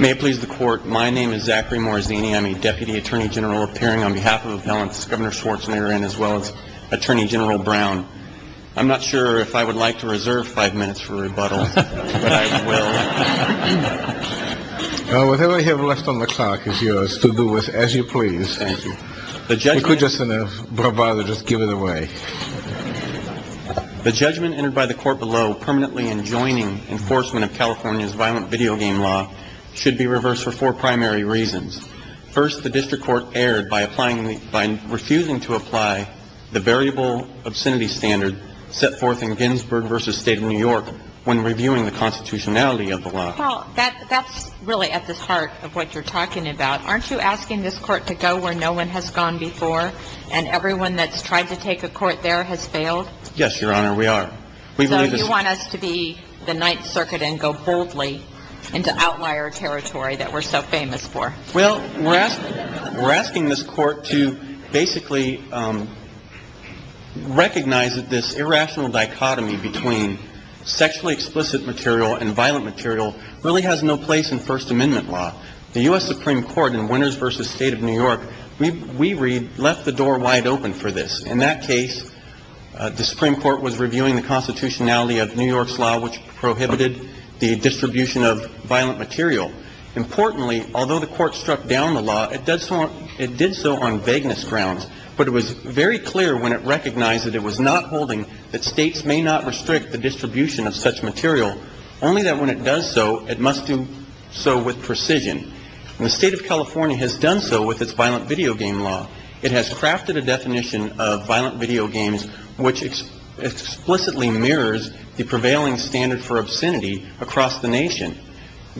May it please the Court, my name is Zachary Morazzini. I'm a Deputy Attorney General appearing on behalf of Appellants Governor Schwarzenegger and as well as Attorney General Brown. I'm not sure if I would like to reserve five minutes for rebuttal. Whatever you have left on the clock is yours to do with as you please. Thank you. The judge could just in a bravado just give it away. The judgment entered by the court below permanently enjoining enforcement of California's violent video game law should be reversed for four primary reasons. First, the district court erred by refusing to apply the variable obscenity standard set forth in Ginsburg v. State of New York when reviewing the constitutionality of the law. That's really at the heart of what you're talking about. Aren't you asking this court to go where no one has gone before and everyone that's tried to take a court there has failed? Yes, Your Honor, we are. So you want us to be the Ninth Circuit and go boldly into outlier territory that we're so famous for? Well, we're asking this court to basically recognize that this irrational dichotomy between sexually explicit material and violent material really has no place in First Amendment law. The U.S. Supreme Court in Winners v. State of New York, we read, left the door wide open for this. In that case, the Supreme Court was reviewing the constitutionality of New York's law which prohibited the distribution of violent material. Importantly, although the court struck down the law, it did so on vagueness grounds. But it was very clear when it recognized that it was not holding that states may not restrict the distribution of such material, only that when it does so, it must do so with precision. And the State of California has done so with its violent video game law. It has crafted a definition of violent video games which explicitly mirrors the prevailing standard for obscenity across the nation.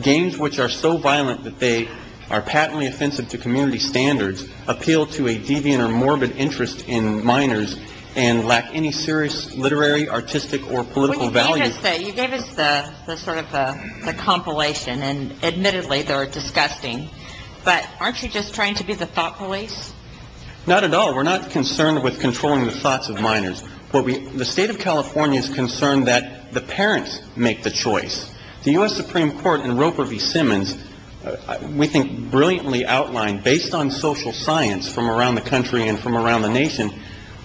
Games which are so violent that they are patently offensive to community standards appeal to a deviant or morbid interest in minors and lack any serious literary, artistic, or political value. You gave us the sort of the compilation and admittedly they were disgusting, but aren't you just trying to be the thought police? Not at all. We're not concerned with controlling the thoughts of minors. The State of California is concerned that the parents make the choice. The U.S. Supreme Court in Roper v. Simmons, we think brilliantly outlined based on social science from around the country and from around the nation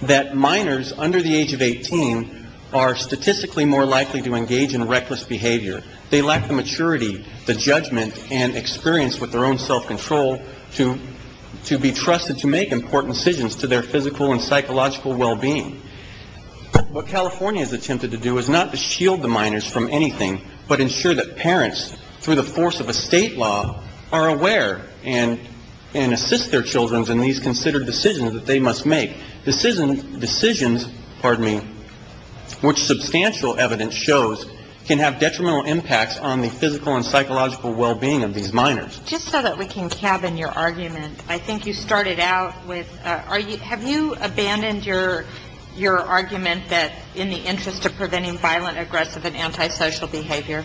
that minors under the age of 18 are statistically more likely to engage in reckless behavior. They lack the maturity, the judgment, and experience with their own self-control to be trusted to make important decisions to their physical and psychological well-being. What California has attempted to do is not to shield the minors from anything, but ensure that parents, through the force of a state law, are aware and assist their children in these considered decisions that they must make. Decisions, which substantial evidence shows, can have detrimental impacts on the physical and psychological well-being of these minors. Just so that we can cabin your argument, I think you started out with, have you abandoned your argument that in the interest of preventing violent, aggressive, and antisocial behavior?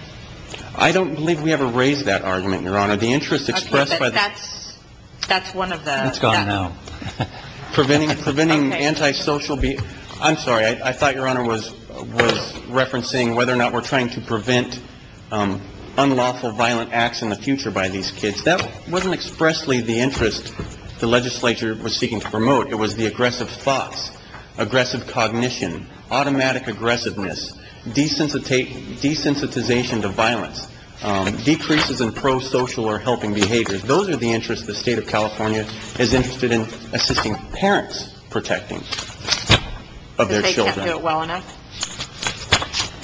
I don't believe we ever raised that argument, Your Honor. The interest expressed by the That's one of the It's gone now. Preventing antisocial, I'm sorry, I thought Your Honor was referencing whether or not we're trying to prevent unlawful violent acts in the future by these kids. That wasn't expressly the interest the legislature was seeking to promote. It was the aggressive thoughts, aggressive cognition, automatic aggressiveness, desensitization to violence, decreases in pro-social or helping behaviors. Those are the interests the state of California is interested in assisting parents protecting of their children. Because they can't do it well enough?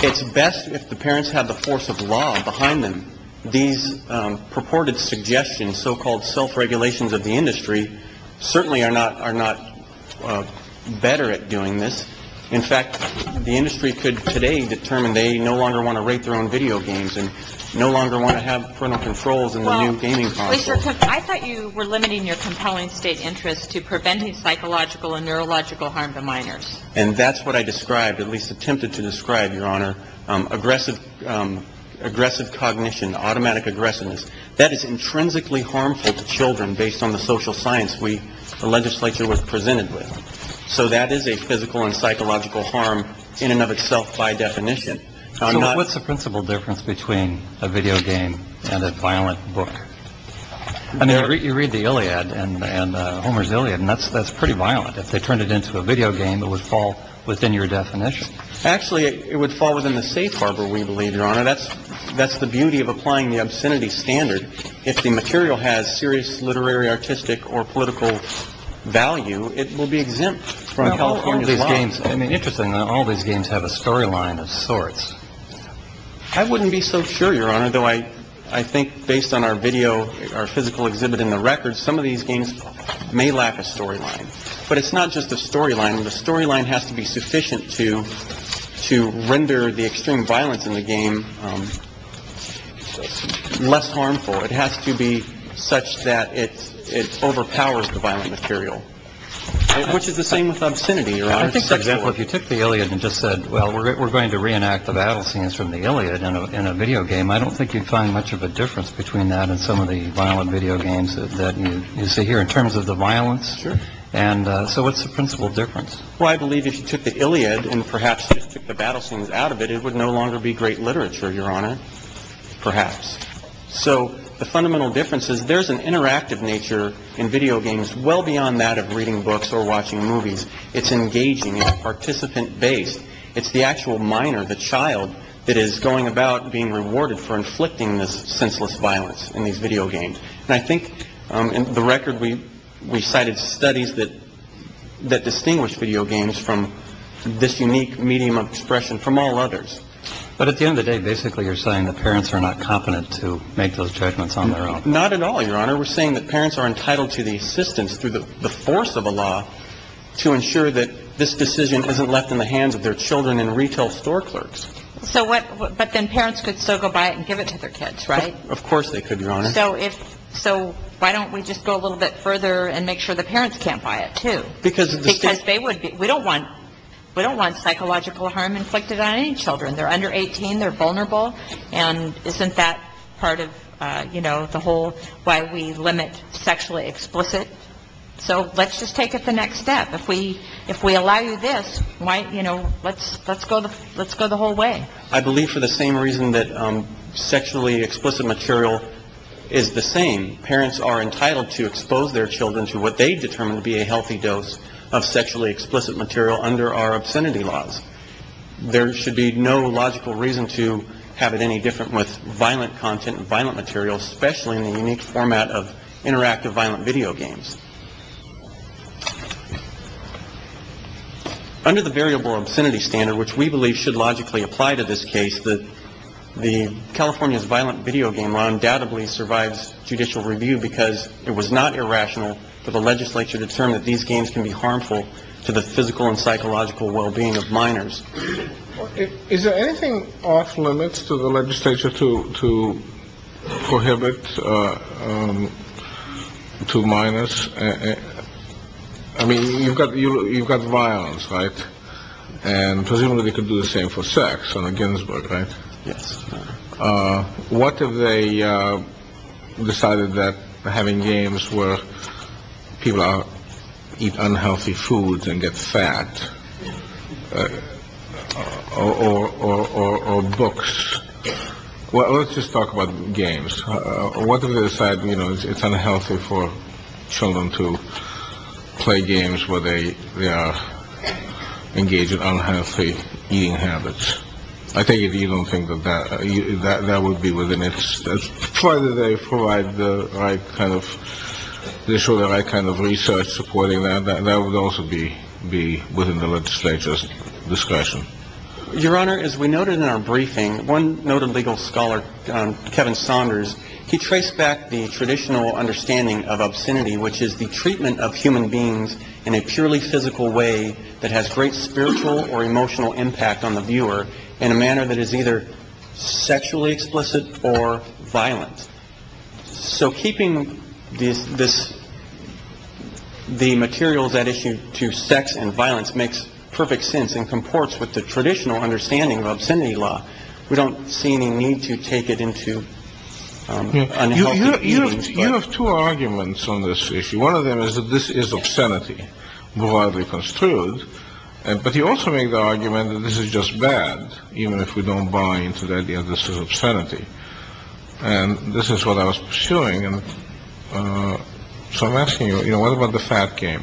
It's best if the parents have the force of law behind them. These purported suggestions, so-called self-regulations of the industry, certainly are not better at doing this. In fact, the industry could today determine they no longer want to rate their own video games and no longer want to have parental controls in the new gaming consoles. Well, I thought you were limiting your compelling state interest to preventing psychological and neurological harm to minors. And that's what I described, at least attempted to describe, Your Honor, aggressive cognition, automatic aggressiveness. That is intrinsically harmful to children based on the social science we, the legislature, was presented with. So that is a physical and psychological harm in and of itself by definition. So what's the principal difference between a video game and a violent book? I mean, you read the Iliad and Homer's Iliad, and that's pretty violent. If they turned it into a video game, it would fall within your definition. Actually, it would fall within the safe harbor, we believe, Your Honor. That's the beauty of applying the obscenity standard. If the material has serious literary, artistic or political value, it will be exempt from California's law. Now, all these games, I mean, interestingly, all these games have a storyline of sorts. I wouldn't be so sure, Your Honor, though I think based on our video, our physical exhibit in the records, some of these games may lack a storyline. But it's not just a storyline The storyline has to be sufficient to to render the extreme violence in the game less harmful. It has to be such that it overpowers the violent material, which is the same with obscenity. Your example, if you took the Iliad and just said, well, we're going to reenact the battle scenes from the Iliad in a video game. I don't think you'd find much of a difference between that and some of the violent video games that you see here in terms of the violence. And so what's the principal difference? Well, I believe if you took the Iliad and perhaps took the battle scenes out of it, it would no longer be great literature, Your Honor, perhaps. So the fundamental difference is there's an interactive nature in video games well beyond that of reading books or watching movies. It's engaging. It's participant based. It's the actual minor, the child that is going about being rewarded for inflicting this senseless violence in these video games. And I think in the record, we we cited studies that that distinguish video games from this unique medium of expression from all others. But at the end of the day, basically, you're saying the parents are not competent to make those judgments on their own. Not at all, Your Honor. We're saying that parents are entitled to the assistance through the force of a law to ensure that this decision isn't left in the hands of their children and retail store clerks. So what? But then parents could still go buy it and give it to their kids, right? Of course they could, Your Honor. So if so, why don't we just go a little bit further and make sure the parents can't buy it, too, because they would. We don't want we don't want psychological harm inflicted on any children. They're under 18. They're vulnerable. And isn't that part of, you know, the whole why we limit sexually explicit. So let's just take it the next step. If we if we allow you this. Why? You know, let's let's go. Let's go the whole way. I believe for the same reason that sexually explicit material is the same. Parents are entitled to expose their children to what they determine to be a healthy dose of sexually explicit material under our obscenity laws. There should be no logical reason to have it any different with violent content and violent material, especially in the unique format of interactive violent video games. Under the variable obscenity standard, which we believe should logically apply to this case, that the California's violent video game law undoubtedly survives judicial review because it was not irrational for the legislature to determine that these games can be harmful to the physical and psychological well-being of minors. Is there anything off limits to the legislature to to prohibit to minus? I mean, you've got you've got violence, right? And presumably they could do the same for sex on a Ginsburg. Right. Yes. What have they decided that having games where people eat unhealthy foods and get fat or books? Well, let's just talk about games. What have you said? You know, it's unhealthy for children to play games where they engage in unhealthy eating habits. I think if you don't think that that that would be within its right that they provide the right kind of they show that I kind of research supporting that, that that would also be be within the legislature's discretion. Your Honor, as we noted in our briefing, one noted legal scholar, Kevin Saunders, he traced back the traditional understanding of obscenity, which is the treatment of human beings in a purely physical way that has great spiritual or emotional impact on the viewer in a manner that is either sexually explicit or violent. So keeping this this the materials that issue to sex and violence makes perfect sense and comports with the traditional understanding of obscenity law. We don't see any need to take it into. You have two arguments on this issue. One of them is that this is obscenity broadly construed. But you also make the argument that this is just bad, even if we don't buy into the idea that this is obscenity. And this is what I was pursuing. And so I'm asking you, you know, what about the fat game?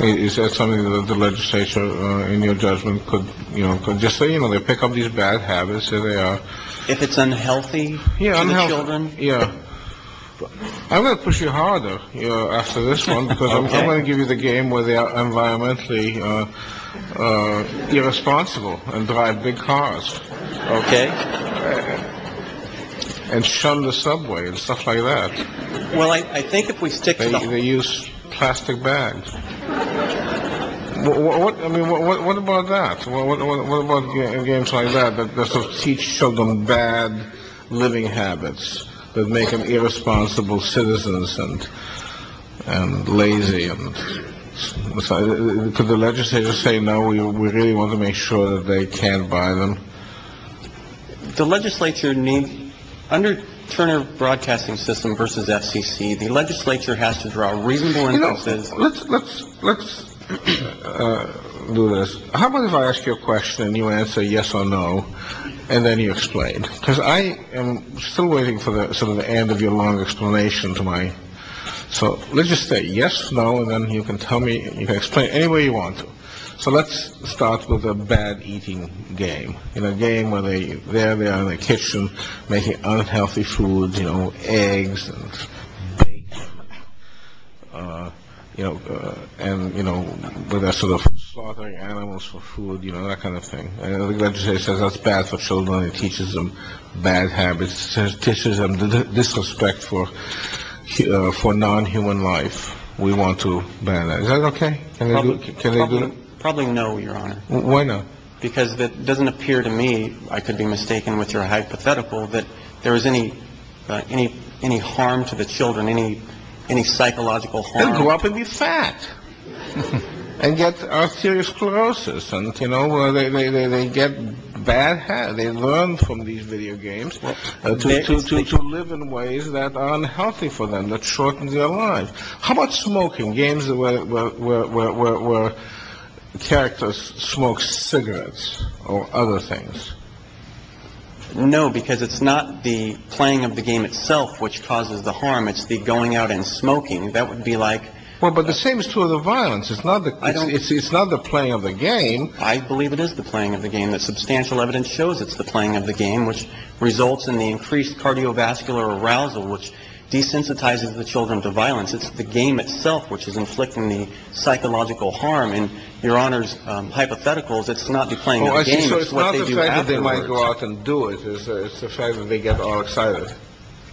Is that something that the legislature, in your judgment, could, you know, just say, you know, they pick up these bad habits and they are if it's unhealthy. Yeah. Yeah. I'm going to push you harder after this one because I'm going to give you the game where they are environmentally irresponsible and drive big cars. OK. And show the subway and stuff like that. Well, I think if we stick to the use plastic bags, what I mean, what about that? Well, what about games like that? That's a teach children bad living habits that make them irresponsible citizens and lazy. And so could the legislature say, no, we really want to make sure that they can buy them. The legislature need under Turner Broadcasting System versus FCC. The legislature has to draw a reasonable. Let's let's let's do this. How about if I ask you a question and you answer yes or no, and then you explain because I am still waiting for the end of your long explanation to my. So let's just say yes. No. And then you can tell me you can explain anyway you want to. So let's start with a bad eating game in a game where they there they are in the kitchen making unhealthy food, you know, eggs and, you know, and, you know, the rest of the slaughtering animals for food, you know, that kind of thing. And the legislature says that's bad for children and teaches them bad habits, says tissues and disrespect for for non-human life. We want to ban that. OK. Can I look? Can I do it? Probably no. Your honor. Why not? Because that doesn't appear to me. I could be mistaken with your hypothetical that there is any any any harm to the children, any any psychological go up and be fat and get serious sclerosis. And, you know, they get bad. They learn from these video games to live in ways that are unhealthy for them, that shortens their lives. How about smoking games where characters smoke cigarettes or other things? No, because it's not the playing of the game itself which causes the harm. It's the going out and smoking. That would be like. Well, but the same is true of the violence. It's not that it's not the playing of the game. I believe it is the playing of the game. That substantial evidence shows it's the playing of the game, which results in the increased cardiovascular arousal, which desensitizes the children to violence. It's the game itself which is inflicting the psychological harm. And your honor's hypotheticals, it's not the playing. I think so. It's not the fact that they might go out and do it. It's the fact that they get all excited.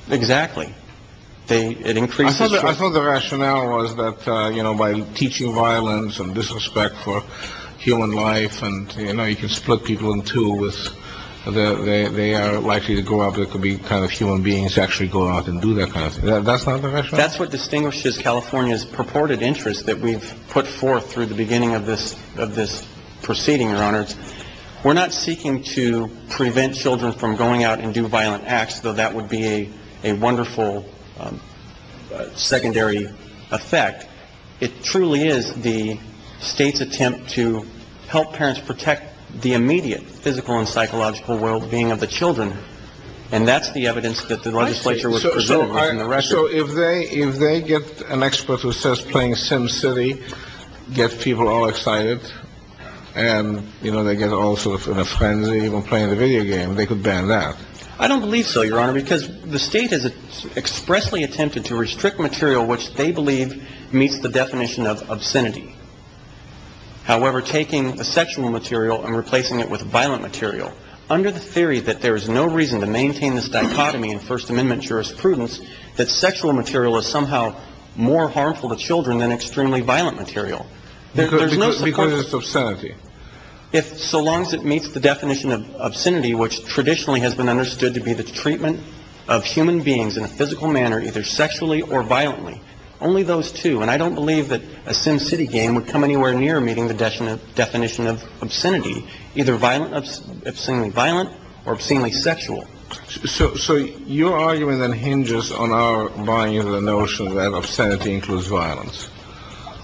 Exactly. They it increases. I thought the rationale was that, you know, by teaching violence and disrespect for human life and, you know, you can split people in two with that. They are likely to go up. It could be kind of human beings actually go out and do that. That's not the right. That's what distinguishes California's purported interest that we've put forth through the beginning of this of this proceeding. Your honors, we're not seeking to prevent children from going out and do violent acts, though that would be a wonderful secondary effect. It truly is the state's attempt to help parents protect the immediate physical and psychological well-being of the children. And that's the evidence that the legislature was in the record. So if they if they get an expert who says playing Sim City gets people all excited and, you know, they get all sort of frenzy even playing the video game, they could ban that. I don't believe so, your honor, because the state has expressly attempted to restrict material which they believe meets the definition of obscenity. However, taking a sexual material and replacing it with violent material under the theory that there is no reason to maintain this dichotomy in First Amendment jurisprudence, that sexual material is somehow more harmful to children than extremely violent material. There's no because of sanity if so long as it meets the definition of obscenity, which traditionally has been understood to be the treatment of human beings in a physical manner, either sexually or violently. Only those two. And I don't believe that a Sim City game would come anywhere near meeting the definition of obscenity, either violent, obscenely violent or obscenely sexual. So your argument then hinges on our buying into the notion that obscenity includes violence.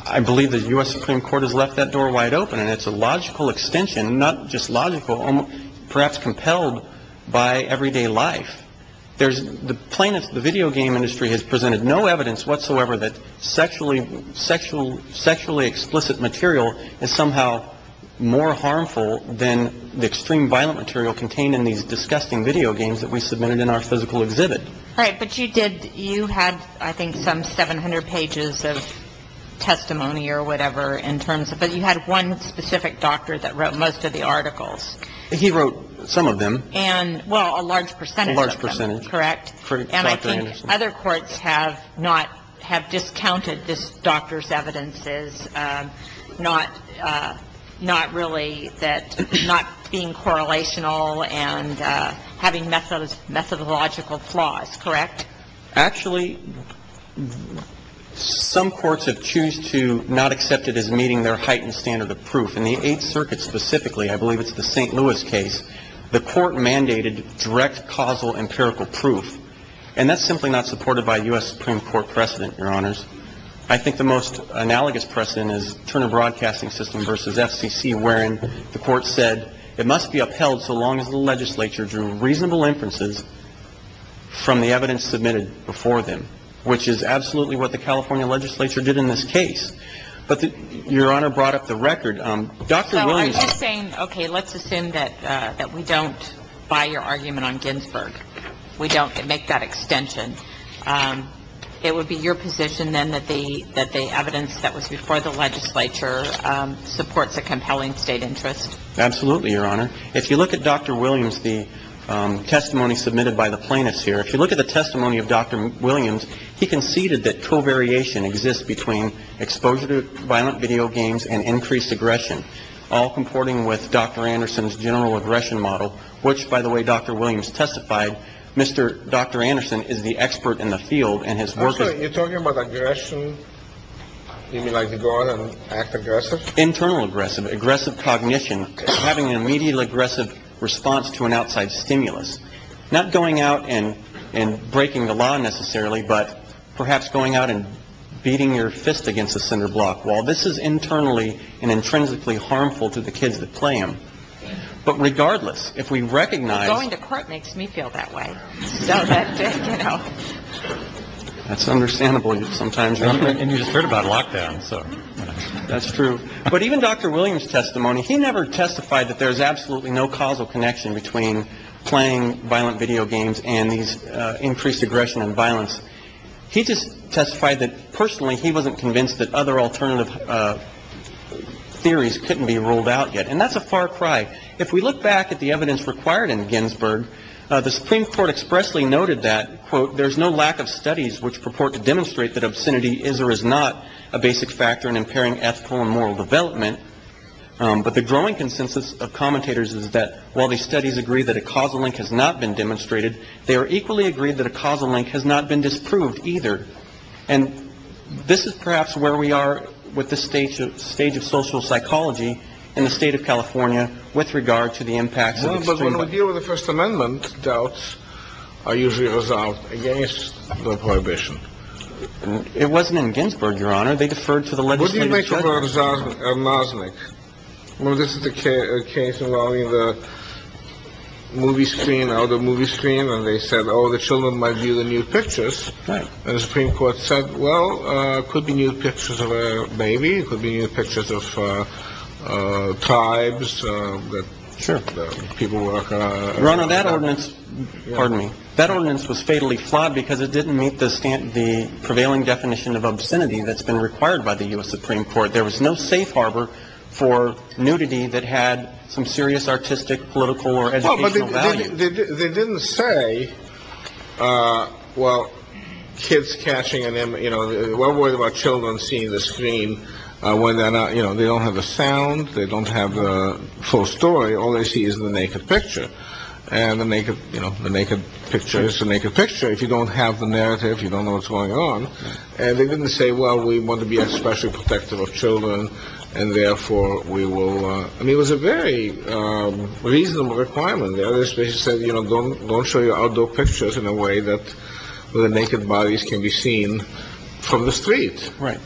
I believe the US Supreme Court has left that door wide open and it's a logical extension, not just logical, perhaps compelled by everyday life. There's the plaintiffs. The video game industry has presented no evidence whatsoever that sexually sexual, sexually explicit material is somehow more harmful than the extreme violent material contained in these disgusting video games that we submitted in our physical exhibit. Right. But you did. You had, I think, some 700 pages of testimony or whatever in terms of it. You had one specific doctor that wrote most of the articles. He wrote some of them. And well, a large percentage, a large percentage. Correct. And I think other courts have not have discounted this doctor's evidences, not not really that not being correlational and having methods, methodological flaws. Correct. Actually, some courts have choose to not accept it as meeting their heightened standard of proof in the Eighth Circuit. Specifically, I believe it's the St. Louis case. The court mandated direct causal empirical proof. And that's simply not supported by US Supreme Court precedent. Your honors. I think the most analogous precedent is Turner Broadcasting System versus FCC, wherein the court said it must be upheld so long as the legislature drew reasonable inferences from the evidence submitted before them, which is absolutely what the California legislature did in this case. But your honor brought up the record. Dr. Williams saying, OK, let's assume that that we don't buy your argument on Ginsburg. We don't make that extension. It would be your position then that the that the evidence that was before the legislature supports a compelling state interest. Absolutely. Your honor. If you look at Dr. Williams, the testimony submitted by the plaintiffs here, if you look at the testimony of Dr. Williams, he conceded that co-variation exists between exposure to violent video games and increased aggression, all comporting with Dr. Anderson's general aggression model, which, by the way, Dr. Williams testified. Mr. Dr. Anderson is the expert in the field and his work. You're talking about aggression. You mean like to go on and act aggressive, internal, aggressive, aggressive cognition, having an immediately aggressive response to an outside stimulus, not going out and and breaking the law necessarily, but perhaps going out and beating your fist against a cinder block. Well, this is internally and intrinsically harmful to the kids that play him. But regardless, if we recognize going to court makes me feel that way. That's understandable. Sometimes you just heard about lockdown. So that's true. But even Dr. Williams testimony, he never testified that there is absolutely no causal connection between playing violent video games and these increased aggression and violence. He just testified that personally, he wasn't convinced that other alternative theories couldn't be ruled out yet. And that's a far cry. If we look back at the evidence required in Ginsburg, the Supreme Court expressly noted that, quote, development. But the growing consensus of commentators is that while the studies agree that a causal link has not been demonstrated, they are equally agreed that a causal link has not been disproved either. And this is perhaps where we are with the stage of stage of social psychology in the state of California. With regard to the impacts of the first amendment. Doubts are usually resolved against the prohibition. It wasn't in Ginsburg, Your Honor. They deferred to the legislature. Mosnick. Well, this is the case involving the movie screen or the movie screen. And they said, oh, the children might view the new pictures. The Supreme Court said, well, could be new pictures of a baby could be new pictures of tribes. Sure. People work on that ordinance. Pardon me. That ordinance was fatally flawed because it didn't meet the standard, the prevailing definition of obscenity that's been required by the US Supreme Court. There was no safe harbor for nudity that had some serious artistic, political or educational value. They didn't say, well, kids catching and, you know, we're worried about children seeing the screen when they're not, you know, they don't have a sound. They don't have a full story. All they see is the naked picture. And the naked, you know, the naked picture is to make a picture. If you don't have the narrative, you don't know what's going on. And they didn't say, well, we want to be especially protective of children. And therefore we will. I mean, it was a very reasonable requirement. The other space said, you know, don't don't show your outdoor pictures in a way that the naked bodies can be seen from the street. Right.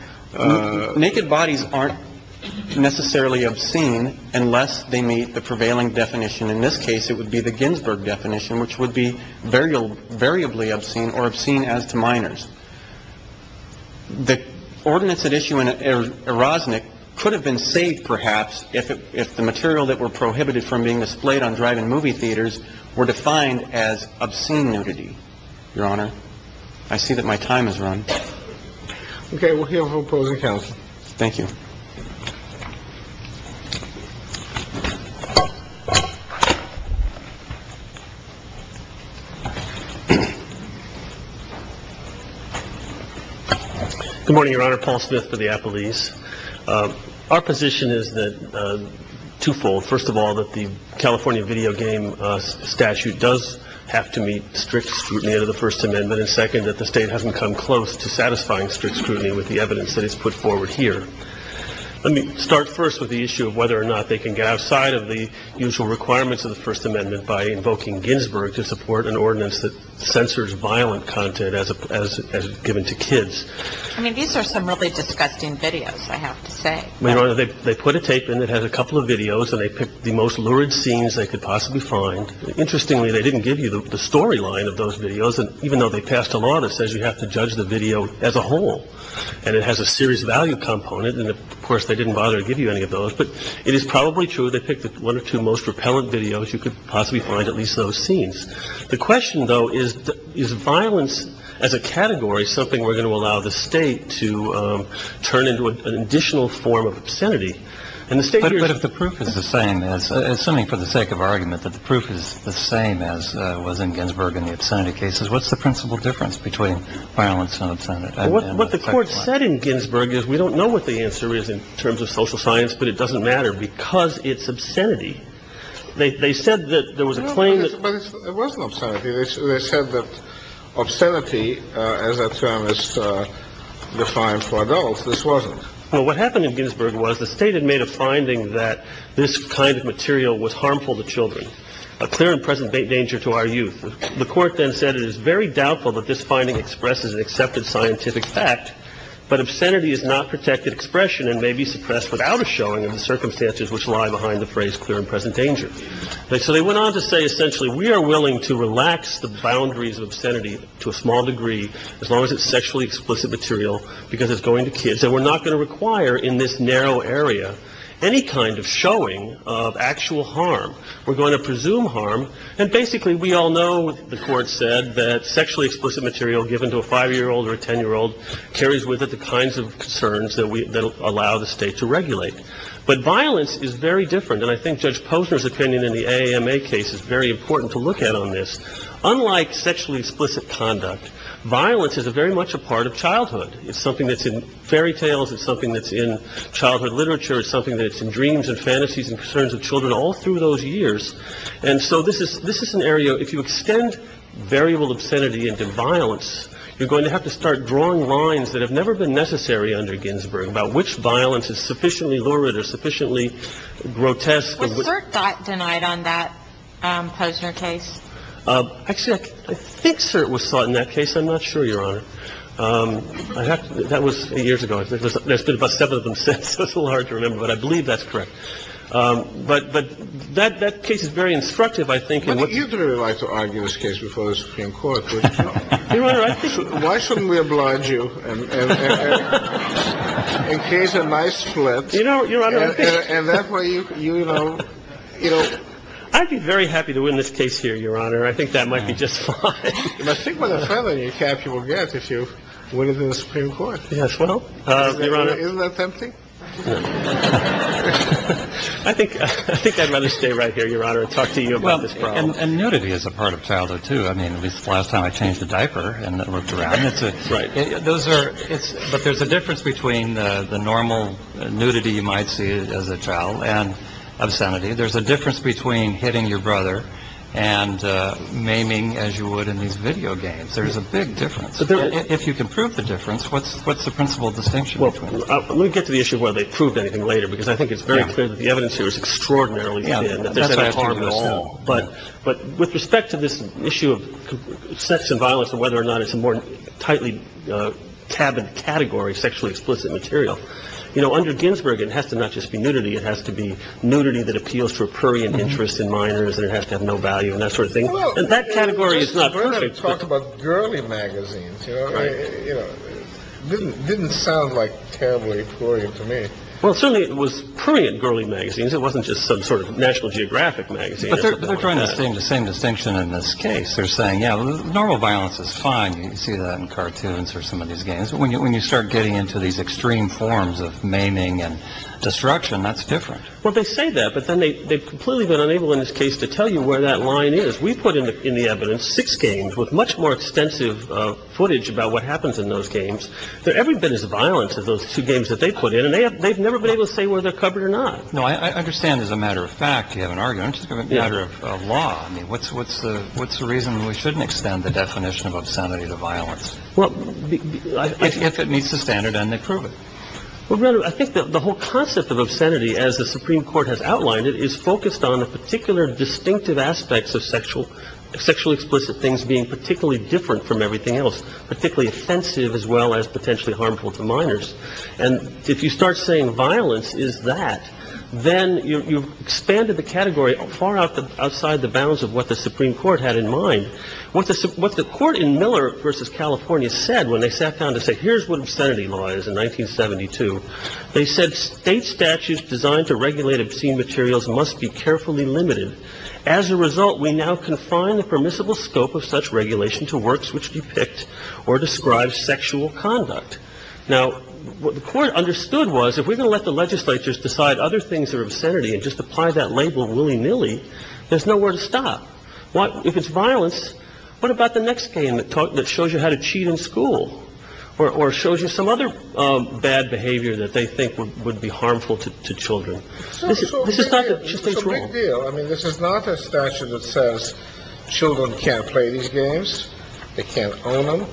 Naked bodies aren't necessarily obscene unless they meet the prevailing definition. In this case, it would be the Ginsburg definition, which would be variable, variably obscene or obscene as to minors. The ordinance at issue in Erosnick could have been saved, perhaps, if if the material that were prohibited from being displayed on drive in movie theaters were defined as obscene nudity. Your honor, I see that my time is run. OK, we'll hear from opposing counsel. Thank you. Good morning, Your Honor. Paul Smith for the Applebee's. Our position is that twofold. First of all, that the California video game statute does have to meet strict scrutiny of the First Amendment. And second, that the state hasn't come close to satisfying strict scrutiny with the evidence that is put forward here. Let me start first with the issue of whether or not they can get outside of the usual requirements of the First Amendment by invoking Ginsburg to support an ordinance that censors violent content as as as given to kids. I mean, these are some really disgusting videos. I have to say, they put a tape and it has a couple of videos and they pick the most lurid scenes they could possibly find. Interestingly, they didn't give you the storyline of those videos. And even though they passed a law that says you have to judge the video as a whole and it has a serious value component. And of course, they didn't bother to give you any of those. But it is probably true. They picked one or two most repellent videos. You could possibly find at least those scenes. The question, though, is, is violence as a category something we're going to allow the state to turn into an additional form of obscenity? And the state. But if the proof is the same as something for the sake of argument, that the proof is the same as was in Ginsburg in the obscenity cases. What's the principal difference between violence and what the court said in Ginsburg is we don't know what the answer is in terms of social science, but it doesn't matter because it's obscenity. They said that there was a claim that it wasn't said that obscenity as a term is defined for adults. This wasn't what happened in Ginsburg was the state had made a finding that this kind of material was harmful to children, a clear and present danger to our youth. The court then said it is very doubtful that this finding expresses an accepted scientific fact. But obscenity is not protected expression and may be suppressed without a showing of the circumstances which lie behind the phrase clear and present danger. So they went on to say, essentially, we are willing to relax the boundaries of obscenity to a small degree as long as it's sexually explicit material, because it's going to kids and we're not going to require in this narrow area any kind of showing of actual harm. We're going to presume harm. And basically, we all know the court said that sexually explicit material given to a five year old or a 10 year old carries with it the kinds of concerns that allow the state to regulate. But violence is very different. And I think Judge Posner's opinion in the AMA case is very important to look at on this. Unlike sexually explicit conduct, violence is a very much a part of childhood. It's something that's in fairy tales. It's something that's in childhood literature. It's something that's in dreams and fantasies and concerns of children all through those years. And so this is this is an area if you extend variable obscenity into violence, you're going to have to start drawing lines that have never been necessary under Ginsburg about which violence is sufficiently lurid or sufficiently grotesque. What was cert thought denied on that Posner case? Actually, I think cert was sought in that case. I'm not sure, your Honor. That was years ago. There's been about seven of them since. That's a little hard to remember, but I believe that's correct. But, but that that case is very instructive, I think. I think you'd really like to argue this case before the Supreme Court. Your Honor, I think. Why shouldn't we oblige you and create a nice split? You know, your Honor, I think. And that's why you, you know, you know, I'd be very happy to win this case here, your Honor. I think that might be just fine. I think with a felony cap, you will get if you win it in the Supreme Court. Yes. Well, isn't that tempting? I think I think I'd rather stay right here, your Honor, and talk to you about this problem. And nudity is a part of childhood, too. I mean, at least last time I changed the diaper and looked around. Right. Those are it's. But there's a difference between the normal nudity you might see as a child and obscenity. There's a difference between hitting your brother and maiming, as you would in these video games. There is a big difference. If you can prove the difference. What's what's the principal distinction? Well, let me get to the issue of whether they proved anything later, because I think it's very clear that the evidence here is extraordinarily. Yeah. But but with respect to this issue of sex and violence and whether or not it's a more tightly tabbed category, sexually explicit material, you know, under Ginsburg, it has to not just be nudity. It has to be nudity that appeals to a prurient interest in minors. And it has to have no value and that sort of thing. And that category is not perfect. Talk about girly magazines, you know, didn't didn't sound like terribly prurient to me. Well, certainly it was prurient, girly magazines. It wasn't just some sort of National Geographic magazine. But they're trying to stay in the same distinction in this case. They're saying, you know, normal violence is fine. You see that in cartoons or some of these games. When you when you start getting into these extreme forms of maiming and destruction, that's different. Well, they say that. But then they they've completely been unable in this case to tell you where that line is. We put in the in the evidence six games with much more extensive footage about what happens in those games. They're every bit as violent as those two games that they put in. And they have they've never been able to say where they're covered or not. No, I understand. As a matter of fact, you have an argument. It's a matter of law. I mean, what's what's the what's the reason we shouldn't extend the definition of obscenity to violence? Well, if it meets the standard and they prove it. Well, I think that the whole concept of obscenity, as the Supreme Court has outlined, it is focused on a particular distinctive aspects of sexual sexually explicit things being particularly different from everything else, particularly offensive as well as potentially harmful to minors. And if you start saying violence, is that then you've expanded the category far out the outside the bounds of what the Supreme Court had in mind. What's the what's the court in Miller versus California said when they sat down to say, here's what obscenity law is in 1972? They said state statutes designed to regulate obscene materials must be carefully limited. As a result, we now confine the permissible scope of such regulation to works which depict or describe sexual conduct. Now, what the court understood was if we're going to let the legislatures decide other things or obscenity and just apply that label willy nilly, there's nowhere to stop. What if it's violence? What about the next game that shows you how to cheat in school or shows you some other bad behavior that they think would be harmful to children? So this is not a big deal. I mean, this is not a statute that says children can't play these games. They can't own them.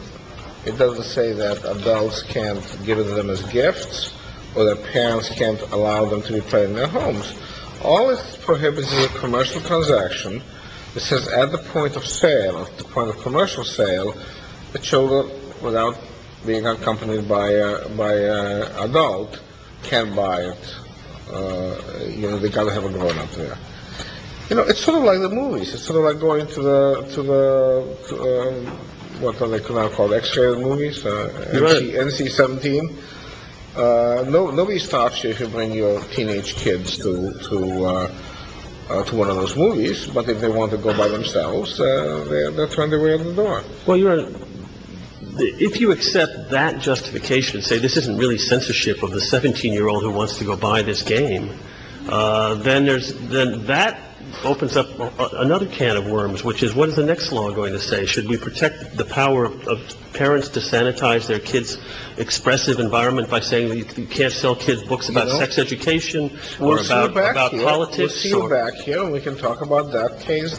It doesn't say that adults can't give them as gifts or their parents can't allow them to play in their homes. All it prohibits is a commercial transaction. This is at the point of sale, the point of commercial sale. The children, without being accompanied by a by adult, can't buy it. You know, it's sort of like the movies. It's sort of like going to the what they now call X-ray movies, NC-17. Nobody stops you if you bring your teenage kids to one of those movies. But if they want to go by themselves, they'll turn their way out the door. Well, you know, if you accept that justification, say this isn't really censorship of the 17 year old who wants to go buy this game, then there's then that opens up another can of worms, which is what is the next law going to say? Should we protect the power of parents to sanitize their kids expressive environment by saying you can't sell kids books about sex education or about politics? We can talk about that case.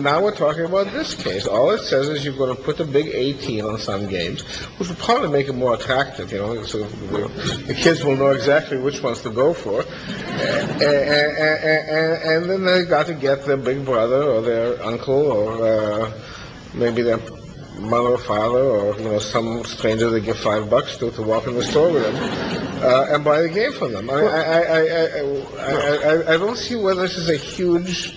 Now we're talking about this case. All it says is you've got to put the big 18 on some games, which will probably make it more attractive. You know, the kids will know exactly which ones to go for. And then they got to get their big brother or their uncle or maybe their mother or father or some stranger. They get five bucks to walk in the storeroom and buy a game for them. I don't see where this is a huge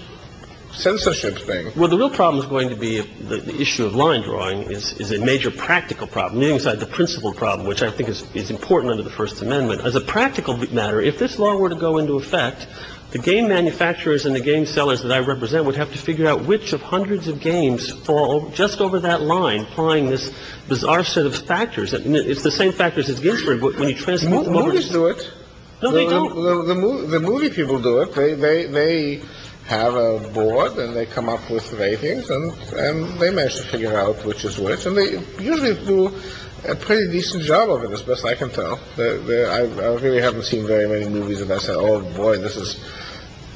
censorship thing. Well, the real problem is going to be the issue of line drawing is a major practical problem inside the principal problem, which I think is important under the First Amendment as a practical matter. If this law were to go into effect, the game manufacturers and the game sellers that I represent would have to figure out which of hundreds of games fall just over that line. I mean, you're applying this bizarre set of factors. I mean, it's the same factors as Ginsburg. But when you transmit to it, the movie people do it. They have a board and they come up with ratings and they managed to figure out which is which. And they usually do a pretty decent job of it, as best I can tell. I really haven't seen very many movies that I said, oh, boy, this is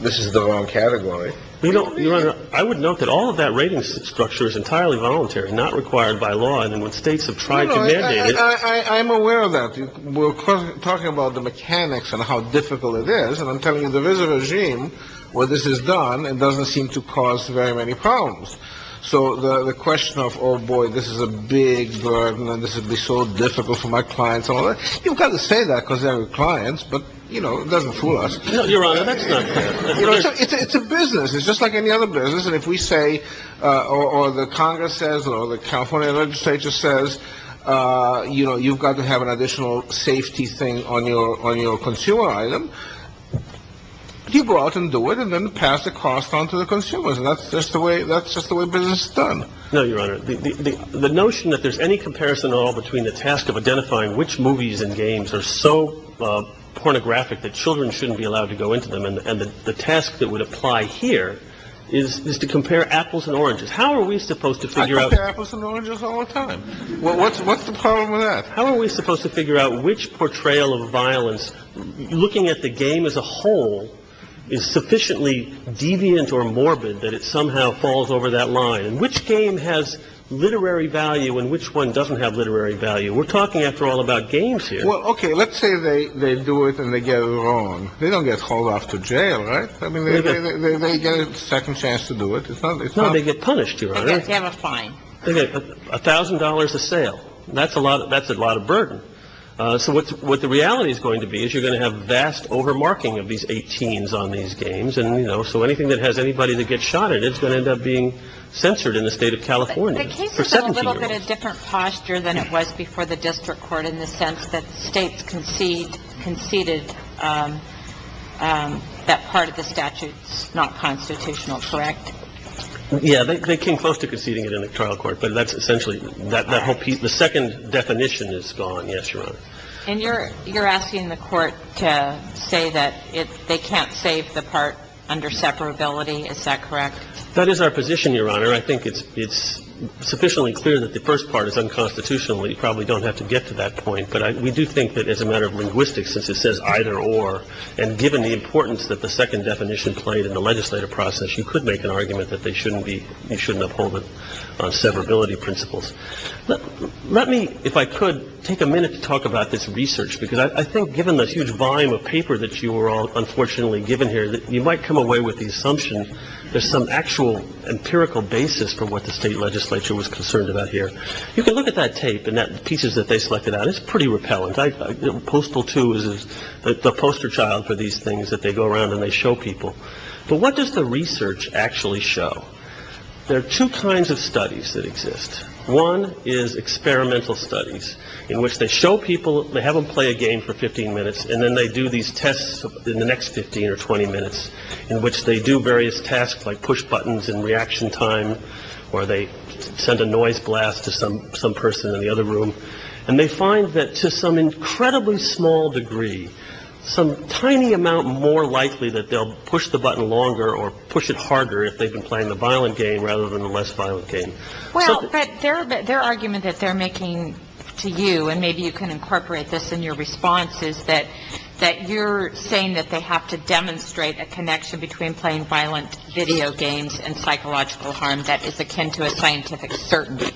this is the wrong category. You know, I would note that all of that ratings structure is entirely voluntary, not required by law. And when states have tried to mandate it, I am aware of that. We're talking about the mechanics and how difficult it is. And I'm telling you, the regime where this is done, it doesn't seem to cause very many problems. So the question of, oh, boy, this is a big burden and this would be so difficult for my clients. You've got to say that because they are clients. But, you know, it doesn't fool us. It's a business. It's just like any other business. And if we say or the Congress says or the California legislature says, you know, you've got to have an additional safety thing on your on your consumer item. You go out and do it and then pass the cost on to the consumers. And that's just the way that's just the way business is done. No, Your Honor, the notion that there's any comparison at all between the task of identifying which movies and games are so pornographic that children shouldn't be allowed to go into them and the task that would apply here is to compare apples and oranges. How are we supposed to figure out apples and oranges all the time? Well, what's what's the problem with that? How are we supposed to figure out which portrayal of violence? Looking at the game as a whole is sufficiently deviant or morbid that it somehow falls over that line. And which game has literary value and which one doesn't have literary value? We're talking, after all, about games here. Well, OK, let's say they do it and they get it wrong. They don't get called off to jail. Right. I mean, they get a second chance to do it. It's not they get punished. You have a fine. A thousand dollars a sale. That's a lot. That's a lot of burden. So what's what the reality is going to be is you're going to have vast overmarking of these 18s on these games. And, you know, so anything that has anybody to get shot at, it's going to end up being censored in the state of California. The case is a little bit of different posture than it was before the district court in the sense that states concede conceded that part of the statute is not constitutional. Correct. Yeah, they came close to conceding it in the trial court. But that's essentially that the whole piece, the second definition is gone. Yes. And you're you're asking the court to say that they can't save the part under separability. Is that correct? That is our position, Your Honor. I think it's it's sufficiently clear that the first part is unconstitutionally. You probably don't have to get to that point. But we do think that as a matter of linguistics, it says either or. And given the importance that the second definition played in the legislative process, you could make an argument that they shouldn't be you shouldn't uphold the separability principles. Let me, if I could, take a minute to talk about this research, because I think given the huge volume of paper that you were all unfortunately given here, you might come away with the assumption there's some actual empirical basis for what the state legislature was concerned about here. You can look at that tape and that pieces that they selected out. It's pretty repellent. Postal two is the poster child for these things that they go around and they show people. But what does the research actually show? There are two kinds of studies that exist. One is experimental studies in which they show people they have them play a game for 15 minutes and then they do these tests in the next 15 or 20 minutes in which they do various tasks like push buttons and reaction time or they send a noise blast to some some person in the other room. And they find that to some incredibly small degree, some tiny amount more likely that they'll push the button longer or push it harder if they've been playing the violent game rather than the less violent game. Their argument that they're making to you, and maybe you can incorporate this in your response, is that that you're saying that they have to demonstrate a connection between playing violent video games and psychological harm that is akin to a scientific certainty.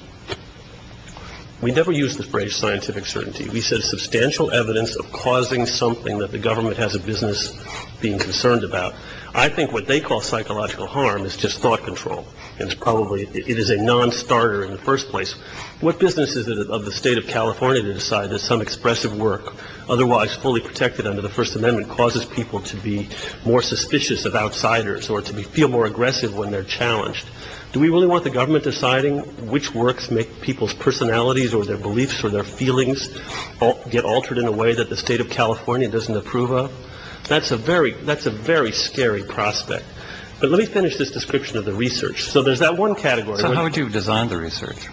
We never use the phrase scientific certainty. We said substantial evidence of causing something that the government has a business being concerned about. I think what they call psychological harm is just thought control. It's probably it is a nonstarter in the first place. What business is it of the state of California to decide that some expressive work otherwise fully protected under the First Amendment causes people to be more suspicious of outsiders or to be feel more aggressive when they're challenged? Do we really want the government deciding which works make people's personalities or their beliefs or their feelings get altered in a way that the state of California doesn't approve of? That's a very that's a very scary prospect. But let me finish this description of the research. So there's that one category. So how would you design the research?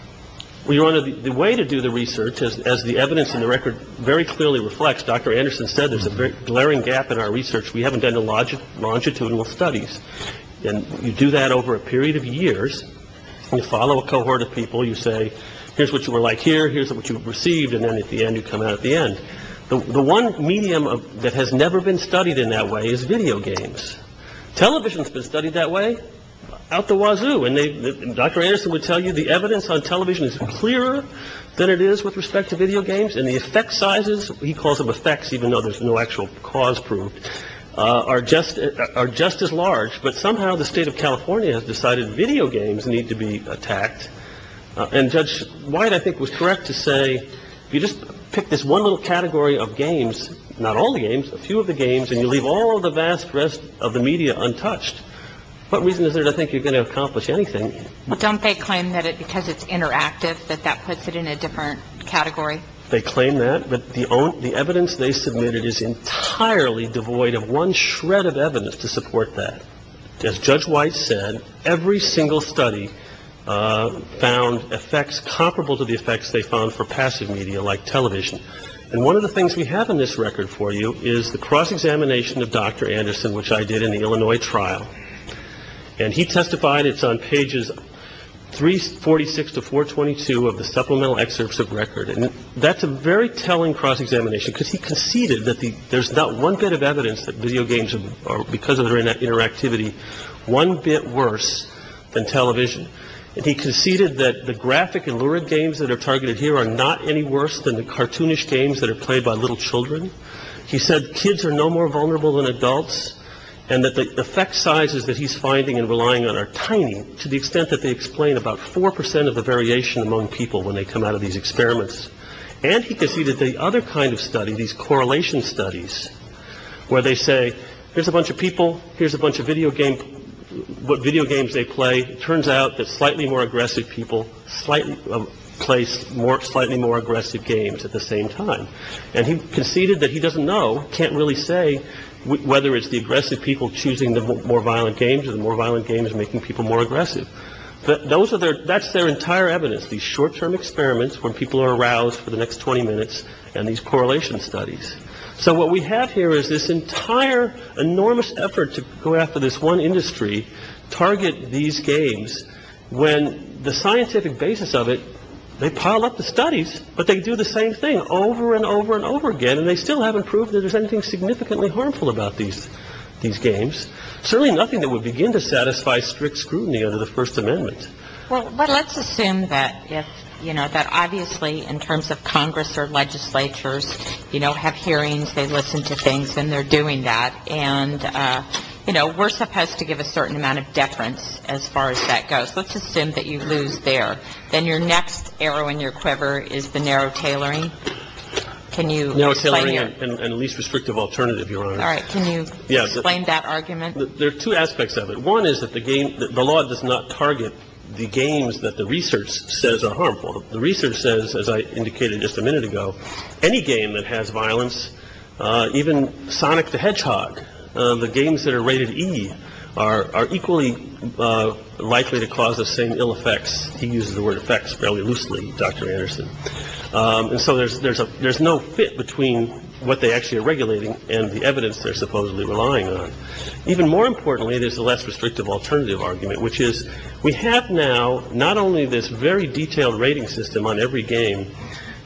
We wanted the way to do the research as the evidence in the record very clearly reflects. Dr. Anderson said there's a glaring gap in our research. We haven't done the logic longitudinal studies. And you do that over a period of years. You follow a cohort of people. You say, here's what you were like here. Here's what you received. And then at the end, you come out at the end. The one medium that has never been studied in that way is video games. Television has been studied that way out the wazoo. And Dr. Anderson would tell you the evidence on television is clearer than it is with respect to video games. And the effect sizes, he calls them effects, even though there's no actual cause proved, are just are just as large. But somehow the state of California has decided video games need to be attacked. And Judge White, I think, was correct to say, you just pick this one little category of games, not all the games, a few of the games. And you leave all the vast rest of the media untouched. What reason is there to think you're going to accomplish anything? Don't they claim that because it's interactive, that that puts it in a different category? They claim that. But the evidence they submitted is entirely devoid of one shred of evidence to support that. As Judge White said, every single study found effects comparable to the effects they found for passive media like television. And one of the things we have in this record for you is the cross-examination of Dr. Anderson, which I did in the Illinois trial. And he testified it's on pages 346 to 422 of the supplemental excerpts of record. And that's a very telling cross-examination because he conceded that there's not one bit of evidence that video games are because of their interactivity. One bit worse than television. And he conceded that the graphic and lurid games that are targeted here are not any worse than the cartoonish games that are played by little children. He said kids are no more vulnerable than adults and that the effect sizes that he's finding and relying on are tiny, to the extent that they explain about four percent of the variation among people when they come out of these experiments. And he conceded the other kind of study, these correlation studies, where they say, here's a bunch of people. Here's a bunch of video game. What video games they play. Turns out that slightly more aggressive people slightly place more slightly more aggressive games at the same time. And he conceded that he doesn't know, can't really say whether it's the aggressive people choosing the more violent games and more violent games, making people more aggressive. But those are there. That's their entire evidence. These short term experiments where people are aroused for the next 20 minutes and these correlation studies. So what we have here is this entire enormous effort to go after this one industry target these games when the scientific basis of it. They pile up the studies, but they do the same thing over and over and over again. And they still haven't proved that there's anything significantly harmful about these these games. Certainly nothing that would begin to satisfy strict scrutiny under the First Amendment. Well, let's assume that, you know, that obviously in terms of Congress or legislatures, you know, have hearings. They listen to things and they're doing that. And, you know, we're supposed to give a certain amount of deference as far as that goes. Let's assume that you lose there. Then your next arrow in your quiver is the narrow tailoring. Can you narrow tailoring and the least restrictive alternative? Your Honor. All right. Can you explain that argument? There are two aspects of it. One is that the game, the law does not target the games that the research says are harmful. The research says, as I indicated just a minute ago, any game that has violence, even Sonic the Hedgehog, the games that are rated E are equally likely to cause the same ill effects. He uses the word effects fairly loosely, Dr. Anderson. And so there's there's a there's no fit between what they actually are regulating and the evidence they're supposedly relying on. Even more importantly, there's a less restrictive alternative argument, which is we have now not only this very detailed rating system on every game,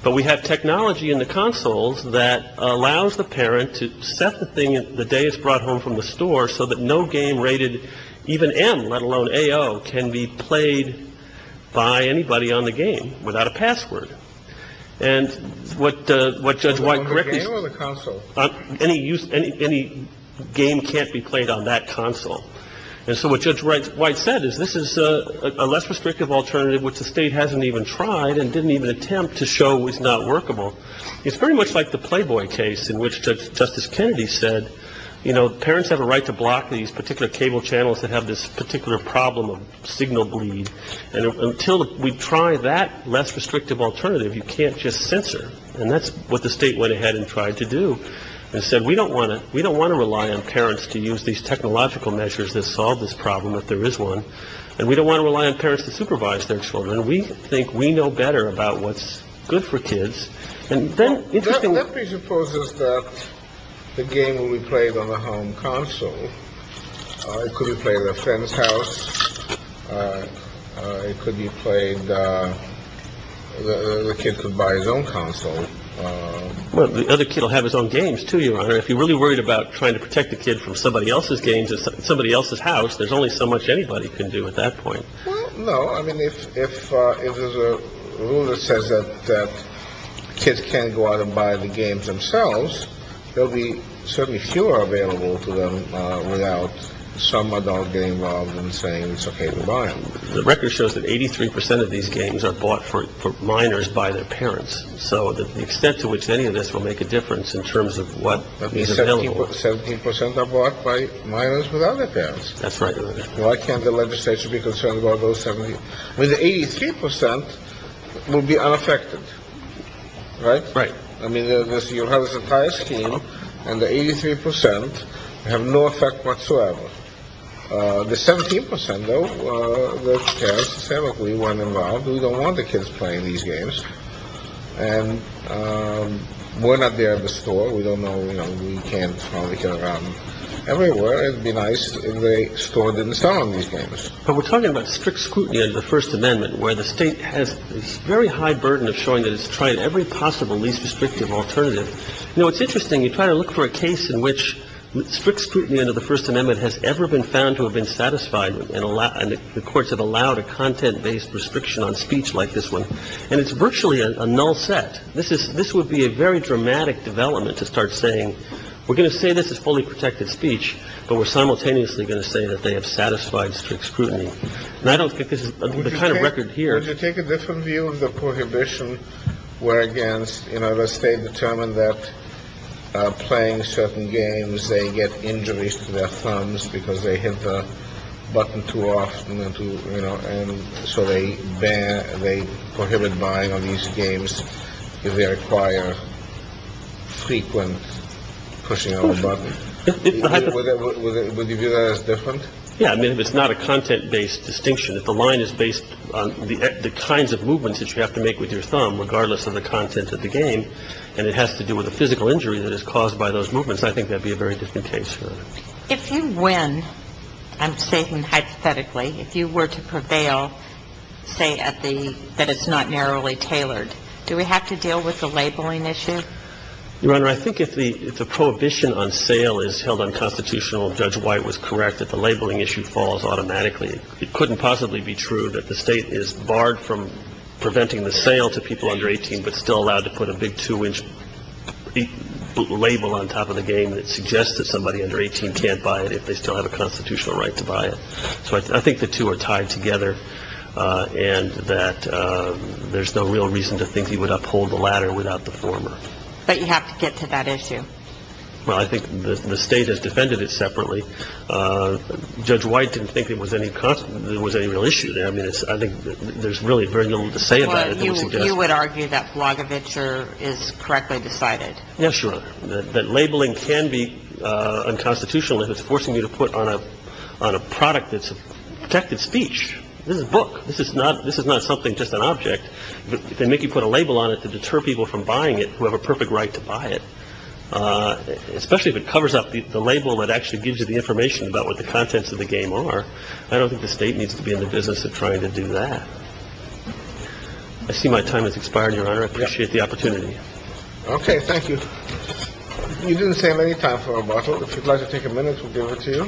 but we have technology in the consoles that allows the parent to set the thing. The day is brought home from the store so that no game rated even M, let alone A.O., can be played by anybody on the game without a password. And what what Judge White correct me on the console, any use, any any game can't be played on that console. And so what Judge White said is this is a less restrictive alternative, which the state hasn't even tried and didn't even attempt to show is not workable. It's very much like the Playboy case in which Justice Kennedy said, you know, parents have a right to block these particular cable channels that have this particular problem of signal bleed. And until we try that less restrictive alternative, you can't just censor. And that's what the state went ahead and tried to do and said, we don't want to. We don't want to rely on parents to use these technological measures that solve this problem if there is one. And we don't want to rely on parents to supervise their children. We think we know better about what's good for kids. And then let me suppose is that the game will be played on the home console. It could be played at a friend's house. It could be played. The kid could buy his own console. The other kid will have his own games to your honor. If you're really worried about trying to protect the kid from somebody else's games, it's somebody else's house. There's only so much anybody can do at that point. No. I mean, if if if there's a rule that says that kids can't go out and buy the games themselves, there'll be certainly fewer available to them without some adult getting involved in saying it's OK to buy them. The record shows that 83 percent of these games are bought for minors by their parents. So the extent to which any of this will make a difference in terms of what 17 percent are bought by minors with other parents. That's right. Why can't the legislature be concerned about those 70 with 83 percent will be unaffected. Right. Right. I mean, you have this entire scheme and the 83 percent have no effect whatsoever. The 17 percent, though, will care. We weren't involved. We don't want the kids playing these games. And we're not there at the store. We don't know. We can probably get around everywhere. It'd be nice if the store didn't start on these games. But we're talking about strict scrutiny of the First Amendment where the state has very high burden of showing that it's tried every possible least restrictive alternative. You know, it's interesting. You try to look for a case in which strict scrutiny under the First Amendment has ever been found to have been satisfied. And the courts have allowed a content based restriction on speech like this one. And it's virtually a null set. This is this would be a very dramatic development to start saying, we're going to say this is fully protected speech. But we're simultaneously going to say that they have satisfied strict scrutiny. And I don't think this is the kind of record here to take a different view of the prohibition where against, you know, let's say determined that playing certain games, they get injuries to their thumbs because they hit the button too often. And so they ban, they prohibit buying on these games if they require frequent pushing of the button. Would you view that as different? Yeah. I mean, if it's not a content based distinction, if the line is based on the kinds of movements that you have to make with your thumb, regardless of the content of the game, and it has to do with a physical injury that is caused by those movements, I think that'd be a very different case. If you win, I'm saying hypothetically, if you were to prevail, say at the, that it's not narrowly tailored, do we have to deal with the labeling issue? Your Honor, I think if the prohibition on sale is held unconstitutional, Judge White was correct that the labeling issue falls automatically. It couldn't possibly be true that the state is barred from preventing the sale to people under 18, but still allowed to put a big two inch label on top of the game that suggests that somebody under 18 can't buy it if they still have a constitutional right to buy it. So I think the two are tied together and that there's no real reason to think he would uphold the latter without the former. But you have to get to that issue. Well, I think the state has defended it separately. Judge White didn't think there was any real issue there. I mean, I think there's really very little to say about it. You would argue that Blagojevich is correctly decided. Yes, sure. That labeling can be unconstitutional if it's forcing you to put on a on a product that's protected speech. This is a book. This is not this is not something just an object. They make you put a label on it to deter people from buying it who have a perfect right to buy it, especially if it covers up the label that actually gives you the information about what the contents of the game are. I don't think the state needs to be in the business of trying to do that. I see my time has expired. Your Honor, I appreciate the opportunity. OK, thank you. You didn't save any time for a bottle. If you'd like to take a minute, we'll give it to you.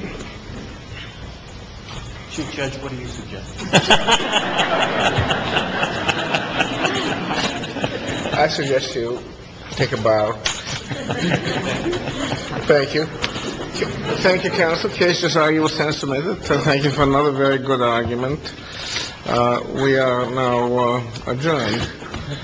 Chief Judge, what do you suggest? I suggest you take a bow. Thank you. Thank you, counsel. Cases are yours. Thank you for another very good argument. We are now adjourned.